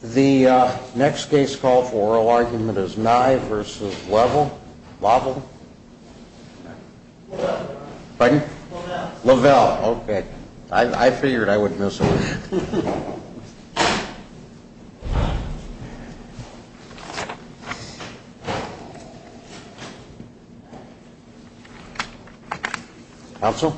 The next case call for oral argument is Nye v. Leavell, okay. I figured I wouldn't miss it. Counsel.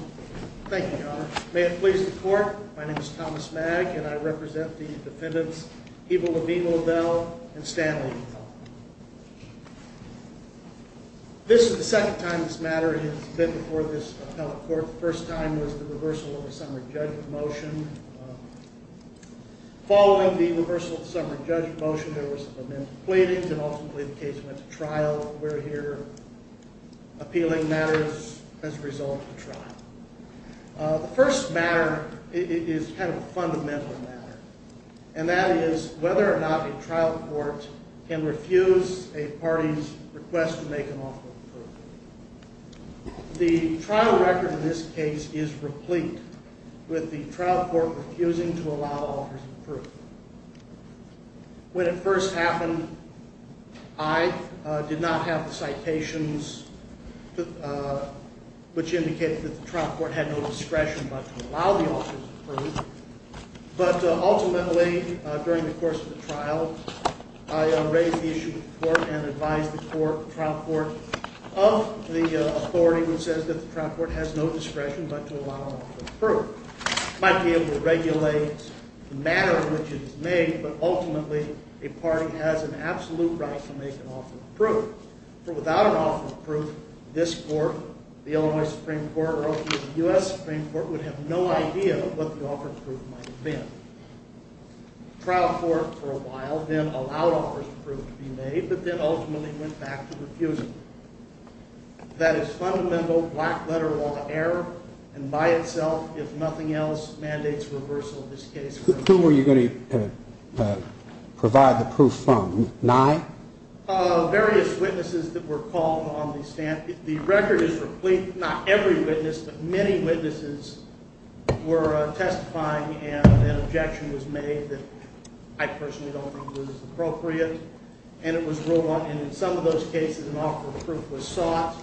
Thank you, Your Honor. May it please the court, my name is Thomas Magg and I represent the defendants Ivo Levine Liddell and Stan Lee. This is the second time this matter has been before this appellate court. The first time was the reversal of the summary judgment motion. Following the reversal of the summary judgment motion, there were some amended pleadings and ultimately the case went to trial. We're here appealing matters as a result of the trial. The first matter is kind of a fundamental matter, and that is whether or not a trial court can refuse a party's request to make an offer of approval. The trial record in this case is replete with the trial court refusing to allow offers of proof. When it first happened, I did not have the citations which indicated that the trial court had no discretion but to allow the offers of proof. But ultimately, during the course of the trial, I raised the issue with the court and advised the trial court of the authority which says that the trial court has no discretion but to allow an offer of proof. It might be able to regulate the manner in which it is made, but ultimately a party has an absolute right to make an offer of proof. For without an offer of proof, this court, the Illinois Supreme Court, or the U.S. Supreme Court, would have no idea what the offer of proof might have been. The trial court, for a while, then allowed offers of proof to be made, but then ultimately went back to refusing. That is fundamental black-letter law error, and by itself, if nothing else, mandates reversal of this case. Who were you going to provide the proof from? Nye? Various witnesses that were called on the stand. The record is complete. Not every witness, but many witnesses were testifying, and an objection was made that I personally don't think was appropriate. And in some of those cases, an offer of proof was sought,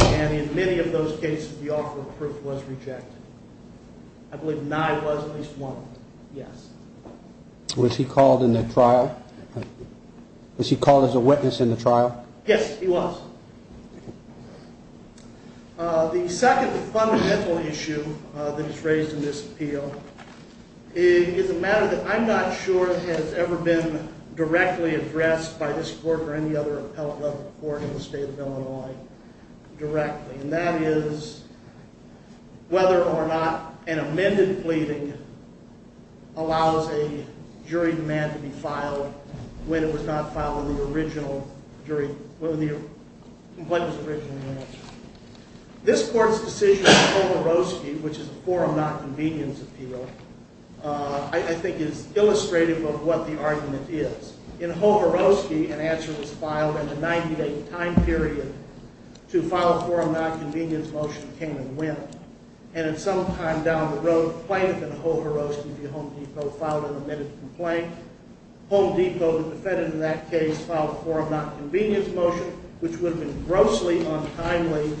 and in many of those cases, the offer of proof was rejected. I believe Nye was at least one. Yes. Was he called in the trial? Was he called as a witness in the trial? Yes, he was. The second fundamental issue that is raised in this appeal is a matter that I'm not sure has ever been directly addressed by this court or any other appellate level court in the state of Illinois directly, and that is whether or not an amended pleading allows a jury demand to be filed when it was not filed in the original jury, when the complaint was originally answered. This court's decision in Hoveroski, which is a forum-not-convenience appeal, I think is illustrative of what the argument is. In Hoveroski, an answer was filed and a 98-time period to file a forum-not-convenience motion came and went. And at some time down the road, Plaintiff in Hoveroski v. Home Depot filed an amended complaint. Home Depot, the defendant in that case, filed a forum-not-convenience motion, which would have been grossly untimely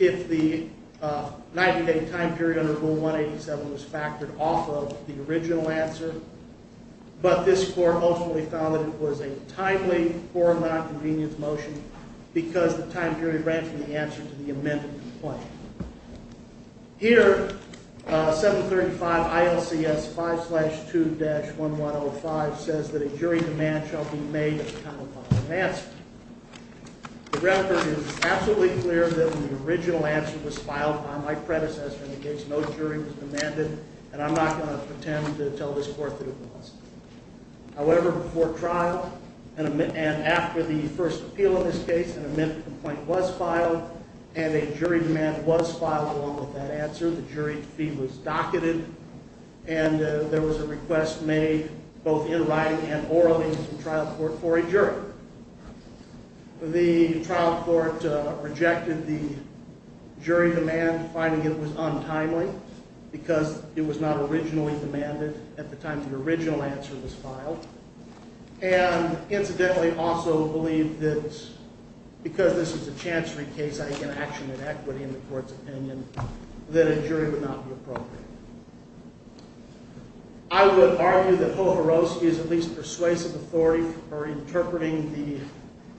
if the 98-time period under Rule 187 was factored off of the original answer. But this court ultimately found that it was a timely forum-not-convenience motion because the time period ran from the answer to the amended complaint. Here, 735 ILCS 5-2-1105 says that a jury demand shall be made at the time of filing an answer. The record is absolutely clear that the original answer was filed by my predecessor in the case. No jury was demanded, and I'm not going to pretend to tell this court that it wasn't. However, before trial and after the first appeal in this case, an amended complaint was filed, and a jury demand was filed along with that answer. The jury fee was docketed, and there was a request made both in writing and orally from trial court for a jury. However, the trial court rejected the jury demand, finding it was untimely because it was not originally demanded at the time the original answer was filed. And incidentally, also believed that because this is a chancery case, I take an action in equity in the court's opinion, that a jury would not be appropriate. I would argue that Hojarowski is at least persuasive authority for interpreting the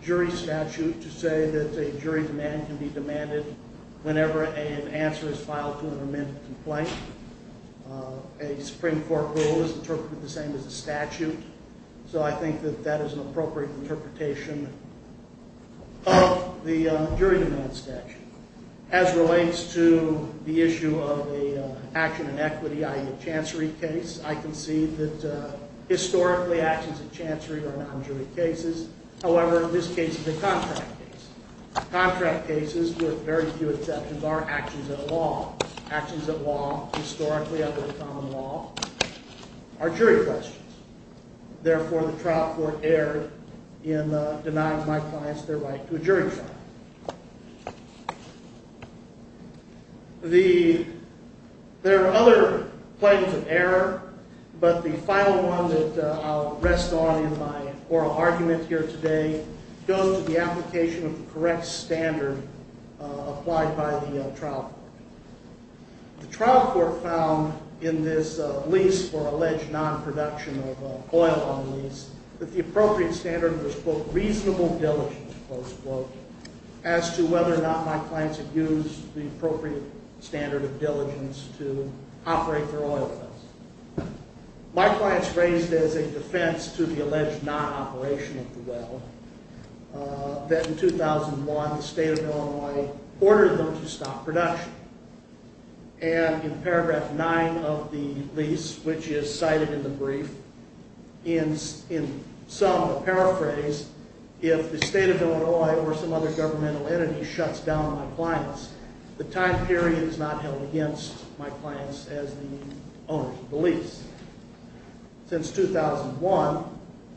jury statute to say that a jury demand can be demanded whenever an answer is filed to an amended complaint. A Supreme Court rule is interpreted the same as a statute, so I think that that is an appropriate interpretation of the jury demand statute. As relates to the issue of an action in equity, i.e. a chancery case, I concede that historically actions in chancery are non-jury cases. However, in this case, it's a contract case. Contract cases, with very few exceptions, are actions at law. Actions at law, historically under the common law, are jury questions. Therefore, the trial court erred in denying my clients their right to a jury trial. There are other plaintiffs of error, but the final one that I'll rest on in my oral argument here today goes to the application of the correct standard applied by the trial court. The trial court found in this lease for alleged non-production of oil on the lease that the appropriate standard was, quote, reasonable diligence, close quote, as to whether or not my clients had used the appropriate standard of diligence to operate their oil wells. My clients raised as a defense to the alleged non-operation of the well that in 2001 the state of Illinois ordered them to stop production. And in paragraph 9 of the lease, which is cited in the brief, in sum, paraphrase, if the state of Illinois or some other governmental entity shuts down my clients, the time period is not held against my clients as the owners of the lease. Since 2001,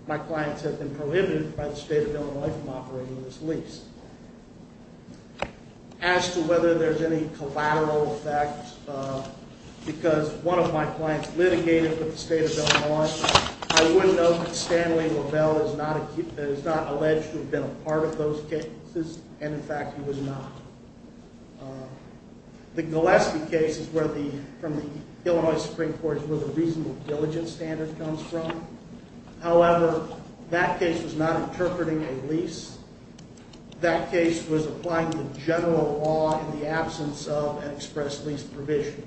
my clients have been prohibited by the state of Illinois from operating this lease. As to whether there's any collateral effect because one of my clients litigated with the state of Illinois, I would note that Stanley LaBelle is not alleged to have been a part of those cases, and in fact he was not. The Gillespie case is where the, from the Illinois Supreme Court, is where the reasonable diligence standard comes from. However, that case was not interpreting a lease. That case was applying the general law in the absence of an express lease provision.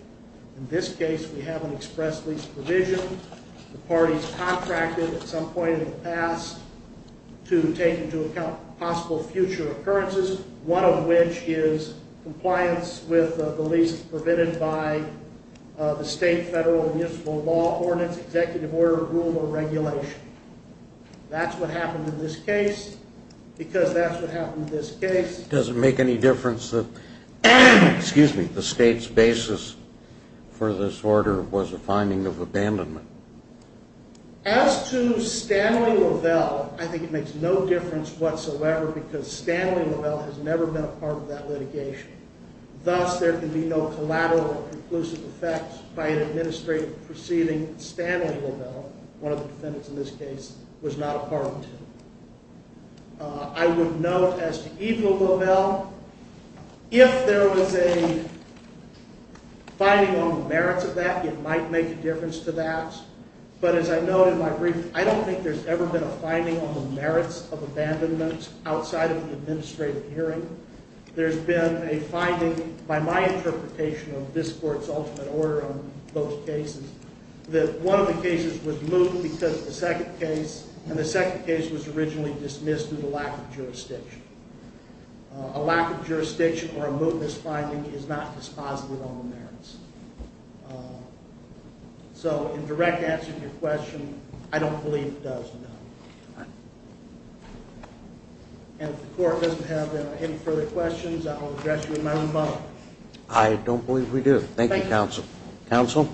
In this case, we have an express lease provision. The parties contracted at some point in the past to take into account possible future occurrences, one of which is compliance with the lease provided by the state, federal, and municipal law ordinance, executive order, rule, or regulation. That's what happened in this case because that's what happened in this case. Does it make any difference that the state's basis for this order was a finding of abandonment? As to Stanley LaBelle, I think it makes no difference whatsoever because Stanley LaBelle has never been a part of that litigation. Thus, there can be no collateral or conclusive effect by an administrative proceeding. Stanley LaBelle, one of the defendants in this case, was not a part of it. I would note, as to Eva LaBelle, if there was a finding on the merits of that, it might make a difference to that. But as I noted in my brief, I don't think there's ever been a finding on the merits of abandonment outside of the administrative hearing. There's been a finding, by my interpretation of this court's ultimate order on both cases, that one of the cases was moot because of the second case, and the second case was originally dismissed due to lack of jurisdiction. A lack of jurisdiction or a mootness finding is not dispositive on the merits. So, in direct answer to your question, I don't believe it does, no. And if the court doesn't have any further questions, I will address you in my own mode. I don't believe we do. Thank you, counsel. Counsel?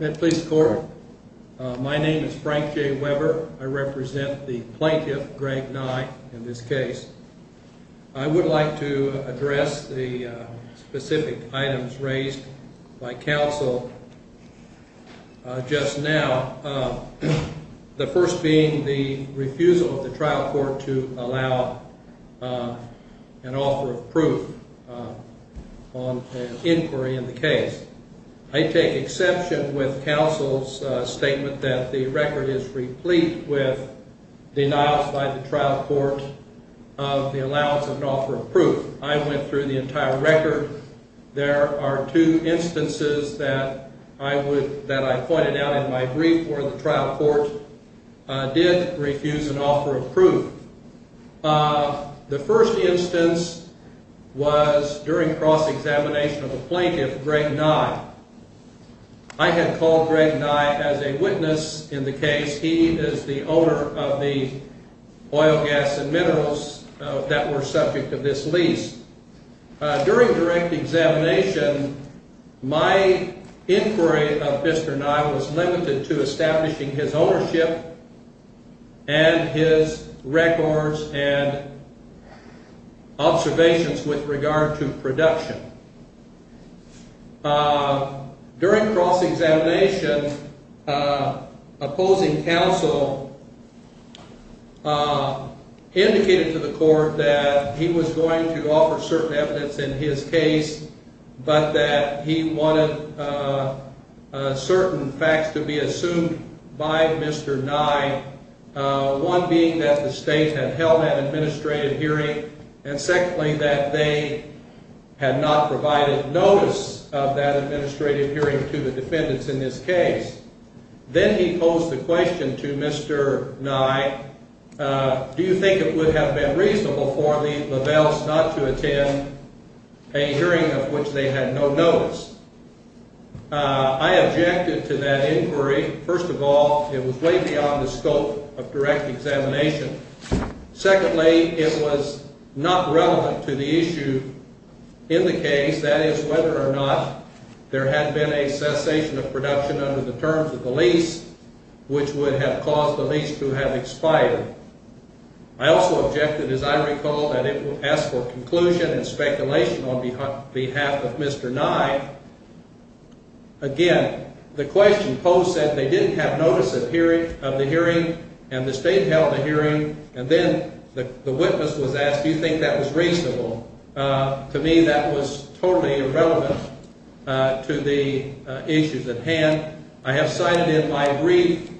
At this court, my name is Frank J. Weber. I represent the plaintiff, Greg Nye, in this case. I would like to address the specific items raised by counsel just now. The first being the refusal of the trial court to allow an offer of proof on inquiry in the case. I take exception with counsel's statement that the record is replete with denials by the trial court of the allowance of an offer of proof. I went through the entire record. There are two instances that I pointed out in my brief where the trial court did refuse an offer of proof. The first instance was during cross-examination of the plaintiff, Greg Nye. I had called Greg Nye as a witness in the case. He is the owner of the oil, gas, and minerals that were subject of this lease. During direct examination, my inquiry of Mr. Nye was limited to establishing his ownership and his records and observations with regard to production. During cross-examination, opposing counsel indicated to the court that he was going to offer certain evidence in his case, but that he wanted certain facts to be assumed by Mr. Nye, one being that the state had held an administrative hearing and, secondly, that they had not provided notice of that administrative hearing to the defendants in this case. Then he posed the question to Mr. Nye, do you think it would have been reasonable for the Lovells not to attend a hearing of which they had no notice? I objected to that inquiry. First of all, it was way beyond the scope of direct examination. Secondly, it was not relevant to the issue in the case, that is, whether or not there had been a cessation of production under the terms of the lease, which would have caused the lease to have expired. I also objected, as I recall, that it would ask for conclusion and speculation on behalf of Mr. Nye. Again, the question posed said they didn't have notice of the hearing and the state held a hearing, and then the witness was asked, do you think that was reasonable? To me, that was totally irrelevant to the issues at hand. I have cited in my brief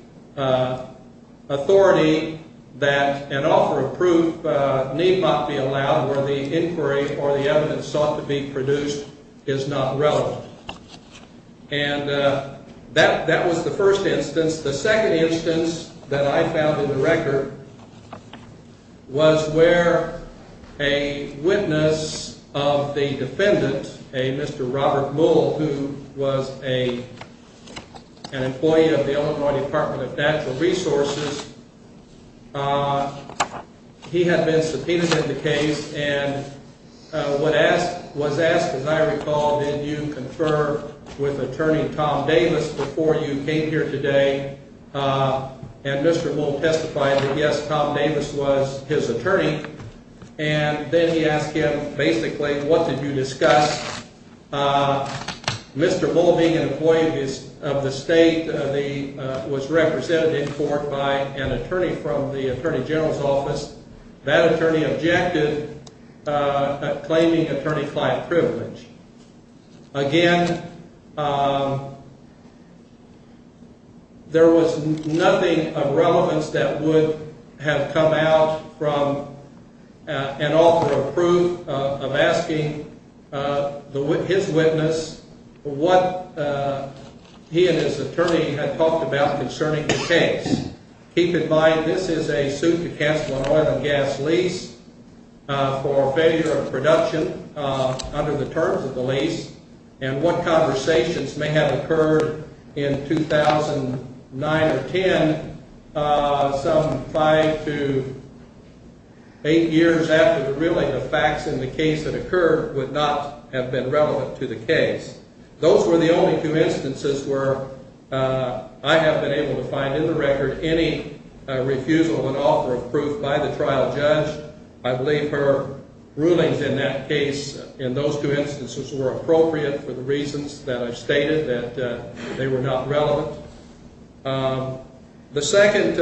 authority that an offer of proof need not be allowed where the inquiry or the evidence sought to be produced is not relevant. That was the first instance. The second instance that I found in the record was where a witness of the defendant, a Mr. Robert Mull, who was an employee of the Illinois Department of Natural Resources, he had been subpoenaed in the case and was asked, as I recall, did you confer with attorney Tom Davis before you came here today? And Mr. Mull testified that, yes, Tom Davis was his attorney. And then he asked him, basically, what did you discuss? Mr. Mull, being an employee of the state, was represented in court by an attorney from the attorney general's office. That attorney objected, claiming attorney client privilege. Again, there was nothing of relevance that would have come out from an offer of proof of asking his witness what he and his attorney had talked about concerning the case. Keep in mind, this is a suit to cancel an oil and gas lease for failure of production under the terms of the lease, and what conversations may have occurred in 2009 or 10 some five to eight years after the reeling of facts in the case that occurred would not have been relevant to the case. Those were the only two instances where I have been able to find in the record any refusal of an offer of proof by the trial judge. I believe her rulings in that case in those two instances were appropriate for the reasons that I've stated, that they were not relevant. The second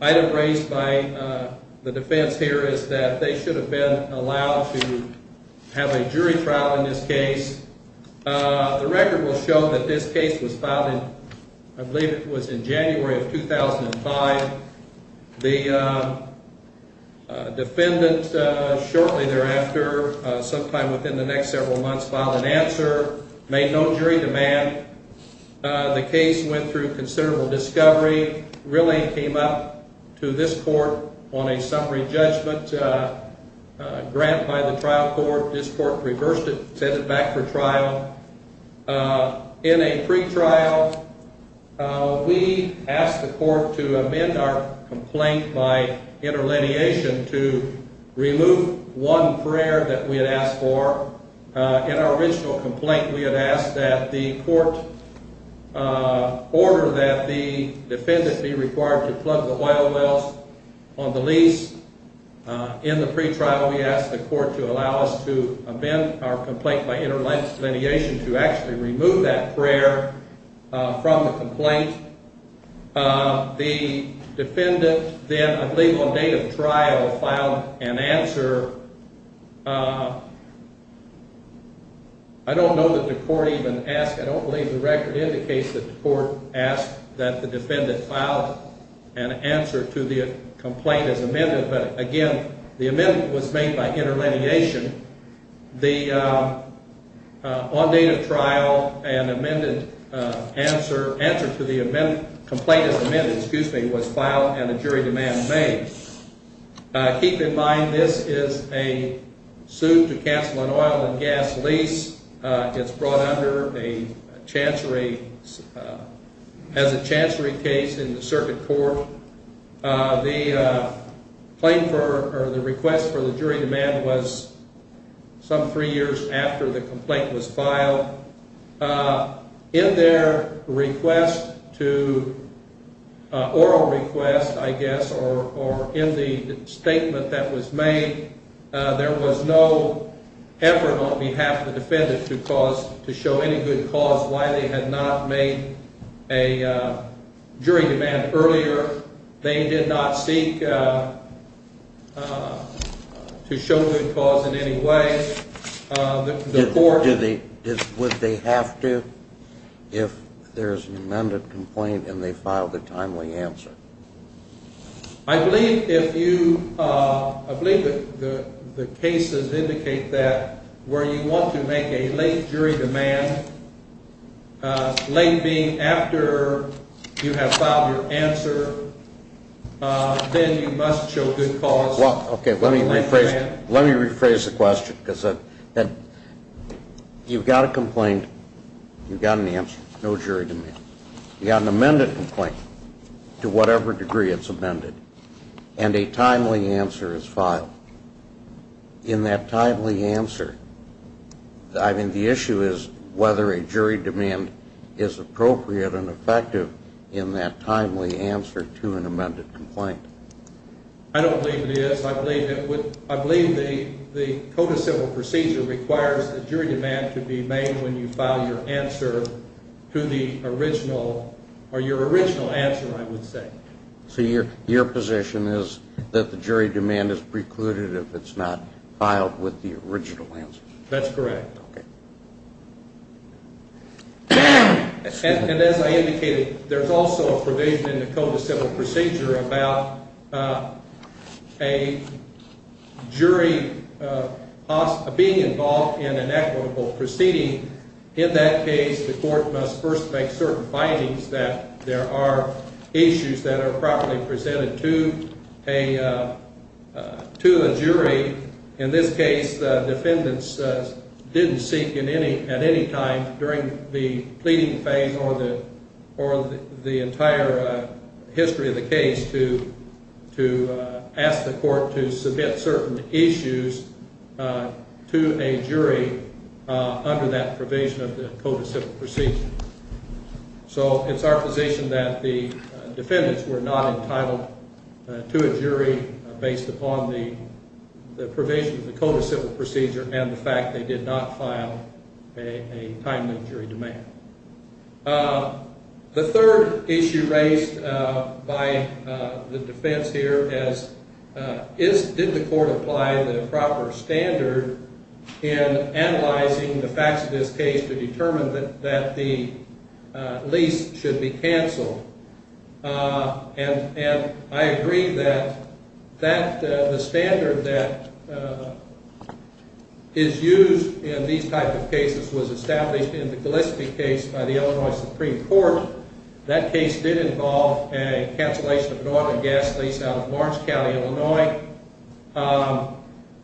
item raised by the defense here is that they should have been allowed to have a jury trial in this case. The record will show that this case was filed in, I believe it was in January of 2005. The defendant shortly thereafter, sometime within the next several months, filed an answer, made no jury demand. The case went through considerable discovery, really came up to this court on a summary judgment grant by the trial court. This court reversed it, sent it back for trial. In a pretrial, we asked the court to amend our complaint by interlineation to remove one prayer that we had asked for. In our original complaint, we had asked that the court order that the defendant be required to plug the oil wells on the lease. In the pretrial, we asked the court to allow us to amend our complaint by interlineation to actually remove that prayer from the complaint. The defendant then, I believe on date of trial, filed an answer. I don't know that the court even asked, I don't believe the record indicates that the court asked that the defendant file an answer to the complaint as amended. But again, the amendment was made by interlineation. The on date of trial and amended answer, answer to the amendment, complaint as amended, excuse me, was filed and a jury demand made. Keep in mind, this is a suit to cancel an oil and gas lease. It's brought under a chancery, as a chancery case in the circuit court. The request for the jury demand was some three years after the complaint was filed. In their request to, oral request, I guess, or in the statement that was made, there was no effort on behalf of the defendant to cause, to show any good cause why they had not made a jury demand earlier. They did not seek to show good cause in any way. Would they have to if there's an amended complaint and they filed a timely answer? I believe if you, I believe that the cases indicate that where you want to make a late jury demand, late being after you have filed your answer, then you must show good cause. Let me rephrase the question, because you've got a complaint, you've got an answer, no jury demand. You've got an amended complaint, to whatever degree it's amended, and a timely answer is filed. In that timely answer, I mean, the issue is whether a jury demand is appropriate and effective in that timely answer to an amended complaint. I don't believe it is. I believe the Code of Civil Procedure requires a jury demand to be made when you file your answer to the original, or your original answer, I would say. So your position is that the jury demand is precluded if it's not filed with the original answer? That's correct. Okay. And as I indicated, there's also a provision in the Code of Civil Procedure about a jury being involved in an equitable proceeding. In that case, the court must first make certain findings that there are issues that are properly presented to a jury. In this case, the defendants didn't seek at any time during the pleading phase or the entire history of the case to ask the court to submit certain issues to a jury under that provision of the Code of Civil Procedure. So it's our position that the defendants were not entitled to a jury based upon the provision of the Code of Civil Procedure and the fact they did not file a timely jury demand. The third issue raised by the defense here is, did the court apply the proper standard in analyzing the facts of this case to determine that the lease should be canceled? And I agree that the standard that is used in these types of cases was established in the Gillespie case by the Illinois Supreme Court. That case did involve a cancellation of an oil and gas lease out of Lawrence County, Illinois.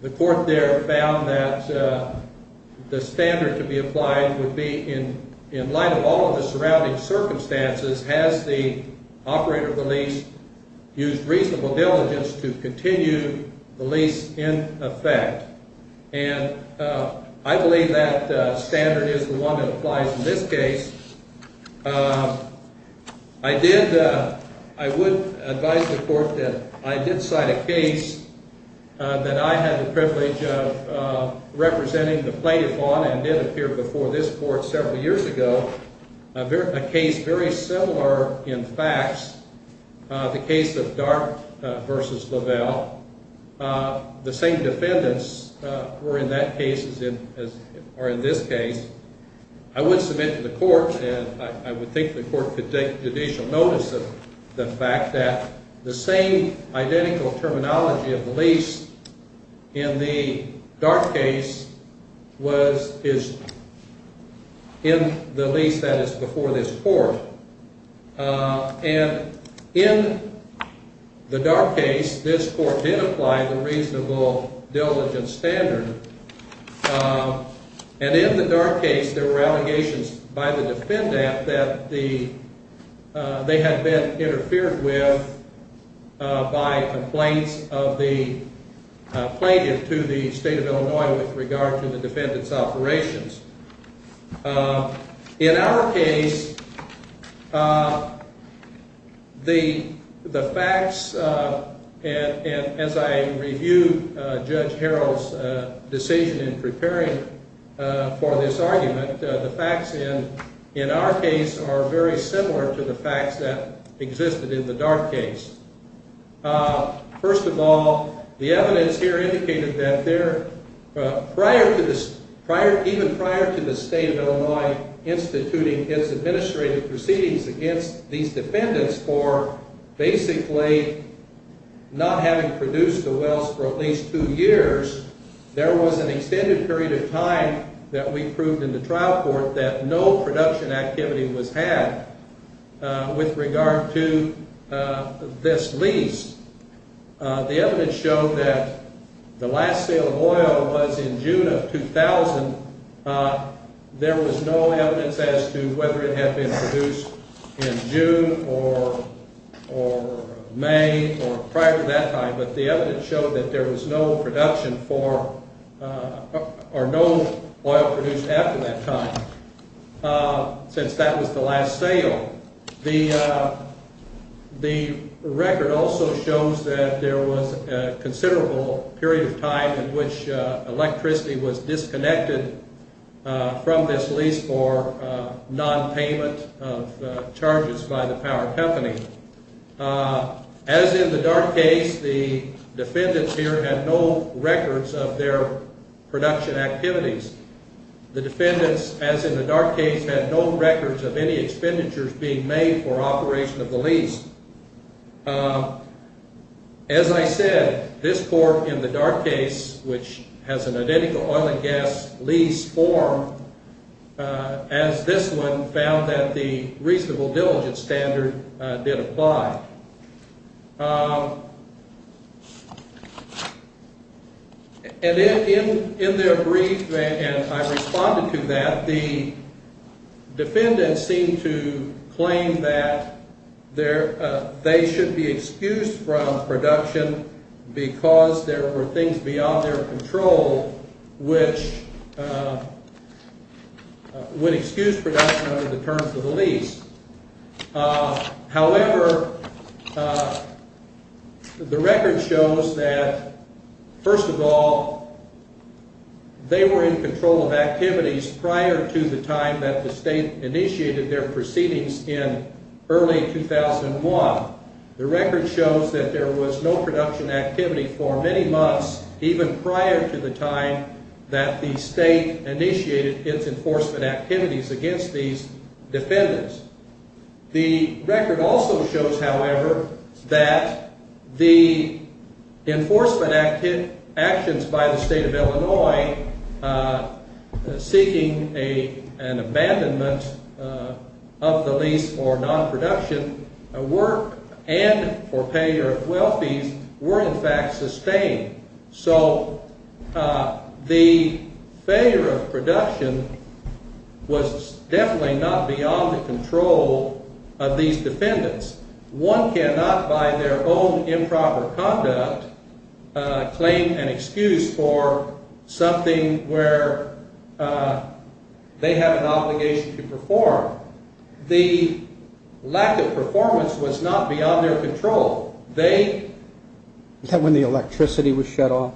The court there found that the standard to be applied would be, in light of all of the surrounding circumstances, has the operator of the lease used reasonable diligence to continue the lease in effect? And I believe that standard is the one that applies in this case. I would advise the court that I did cite a case that I had the privilege of representing the plaintiff on and did appear before this court several years ago. A case very similar in facts, the case of Dart v. Lavelle. The same defendants were in that case or in this case. I would submit to the court and I would think the court could take judicial notice of the fact that the same identical terminology of the lease in the Dart case is in the lease that is before this court. And in the Dart case, this court did apply the reasonable diligence standard. And in the Dart case, there were allegations by the defendant that they had been interfered with by complaints of the plaintiff to the state of Illinois with regard to the defendant's operations. In our case, the facts, as I reviewed Judge Harrell's decision in preparing for this argument, the facts in our case are very similar to the facts that existed in the Dart case. First of all, the evidence here indicated that even prior to the state of Illinois instituting its administrative proceedings against these defendants for basically not having produced the wells for at least two years, there was an extended period of time that we proved in the trial court that no production activity was had with regard to this lease. The evidence showed that the last sale of oil was in June of 2000. There was no evidence as to whether it had been produced in June or May or prior to that time, but the evidence showed that there was no production for or no oil produced after that time since that was the last sale. The record also shows that there was a considerable period of time in which electricity was disconnected from this lease for nonpayment of charges by the power company. As in the Dart case, the defendants here had no records of their production activities. The defendants, as in the Dart case, had no records of any expenditures being made for operation of the lease. As I said, this court in the Dart case, which has an identical oil and gas lease form, as this one, found that the reasonable diligence standard did apply. And in their brief, and I responded to that, the defendants seemed to claim that they should be excused from production because there were things beyond their control which would excuse production under the terms of the lease. However, the record shows that, first of all, they were in control of activities prior to the time that the state initiated their proceedings in early 2001. The record shows that there was no production activity for many months even prior to the time that the state initiated its enforcement activities against these defendants. The record also shows, however, that the enforcement actions by the state of Illinois seeking an abandonment of the lease for nonproduction work and for payer of well fees were in fact sustained. So the failure of production was definitely not beyond the control of these defendants. One cannot, by their own improper conduct, claim an excuse for something where they have an obligation to perform. The lack of performance was not beyond their control. Is that when the electricity was shut off?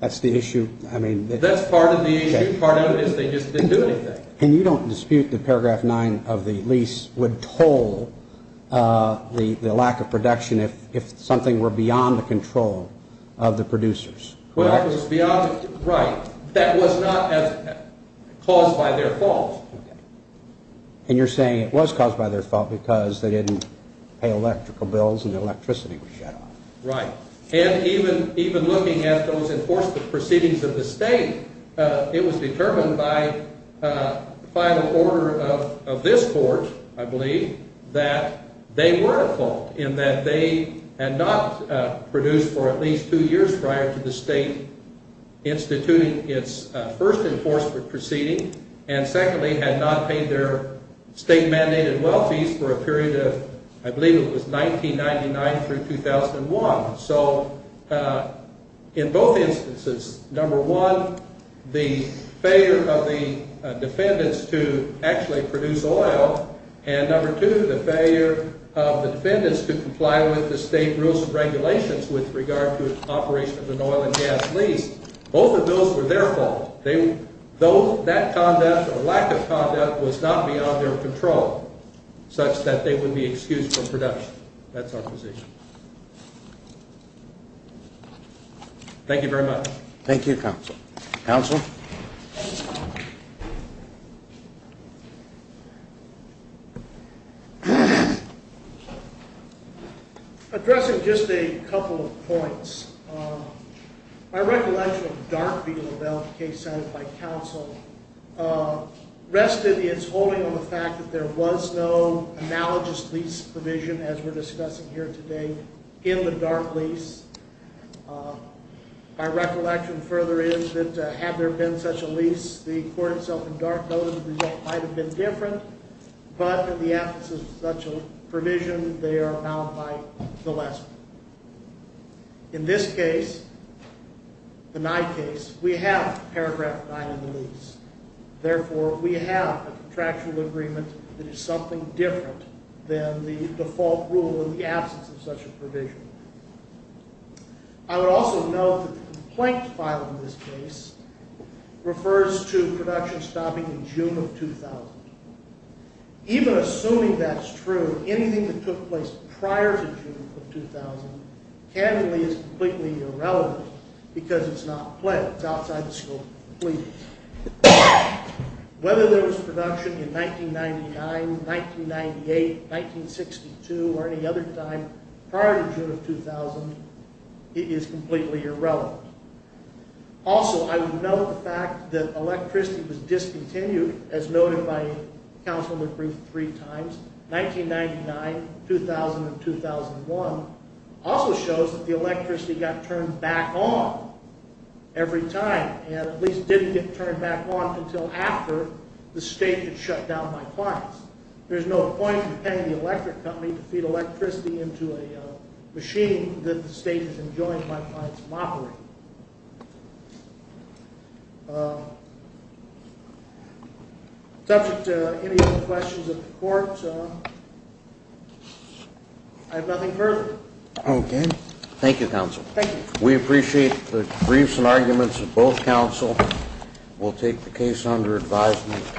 That's the issue? That's part of the issue. Part of it is they just didn't do anything. And you don't dispute that Paragraph 9 of the lease would toll the lack of production if something were beyond the control of the producers? Well, it was beyond the control. Right. That was not caused by their fault. And you're saying it was caused by their fault because they didn't pay electrical bills and the electricity was shut off. Right. And even looking at those enforcement proceedings of the state, it was determined by the final order of this court, I believe, that they were at fault in that they had not produced for at least two years prior to the state instituting its first enforcement proceeding and secondly had not paid their state mandated well fees for a period of, I believe it was 1999 through 2001. So in both instances, number one, the failure of the defendants to actually produce oil and number two, the failure of the defendants to comply with the state rules and regulations with regard to operation of an oil and gas lease, both of those were their fault. That conduct or lack of conduct was not beyond their control such that they would be excused from production. That's our position. Thank you very much. Thank you, counsel. Counsel? Thank you. Addressing just a couple of points. I recollect Darby Lavelle case set by counsel rested its holding on the fact that there was no analogous lease provision as we're discussing here today in the dark lease. My recollection further is that had there been such a lease, the court itself in dark notice of the result might have been different, but in the absence of such a provision, they are bound by the last one. In this case, the Nye case, we have paragraph nine in the lease. Therefore, we have a contractual agreement that is something different than the default rule in the absence of such a provision. I would also note that the complaint file in this case refers to production stopping in June of 2000. Even assuming that's true, anything that took place prior to June of 2000 candidly is completely irrelevant because it's not pledged outside the scope of the plea. Whether there was production in 1999, 1998, 1962 or any other time prior to June of 2000 is completely irrelevant. Also, I would note the fact that electricity was discontinued as noted by counsel in the brief three times. 1999, 2000 and 2001 also shows that the electricity got turned back on every time and at least didn't get turned back on until after the state had shut down my clients. There's no point in paying the electric company to feed electricity into a machine that the state has enjoined my clients from operating. Subject to any other questions of the court, I have nothing further. Okay. Thank you, counsel. Thank you. We appreciate the briefs and arguments of both counsel. We'll take the case under advisement.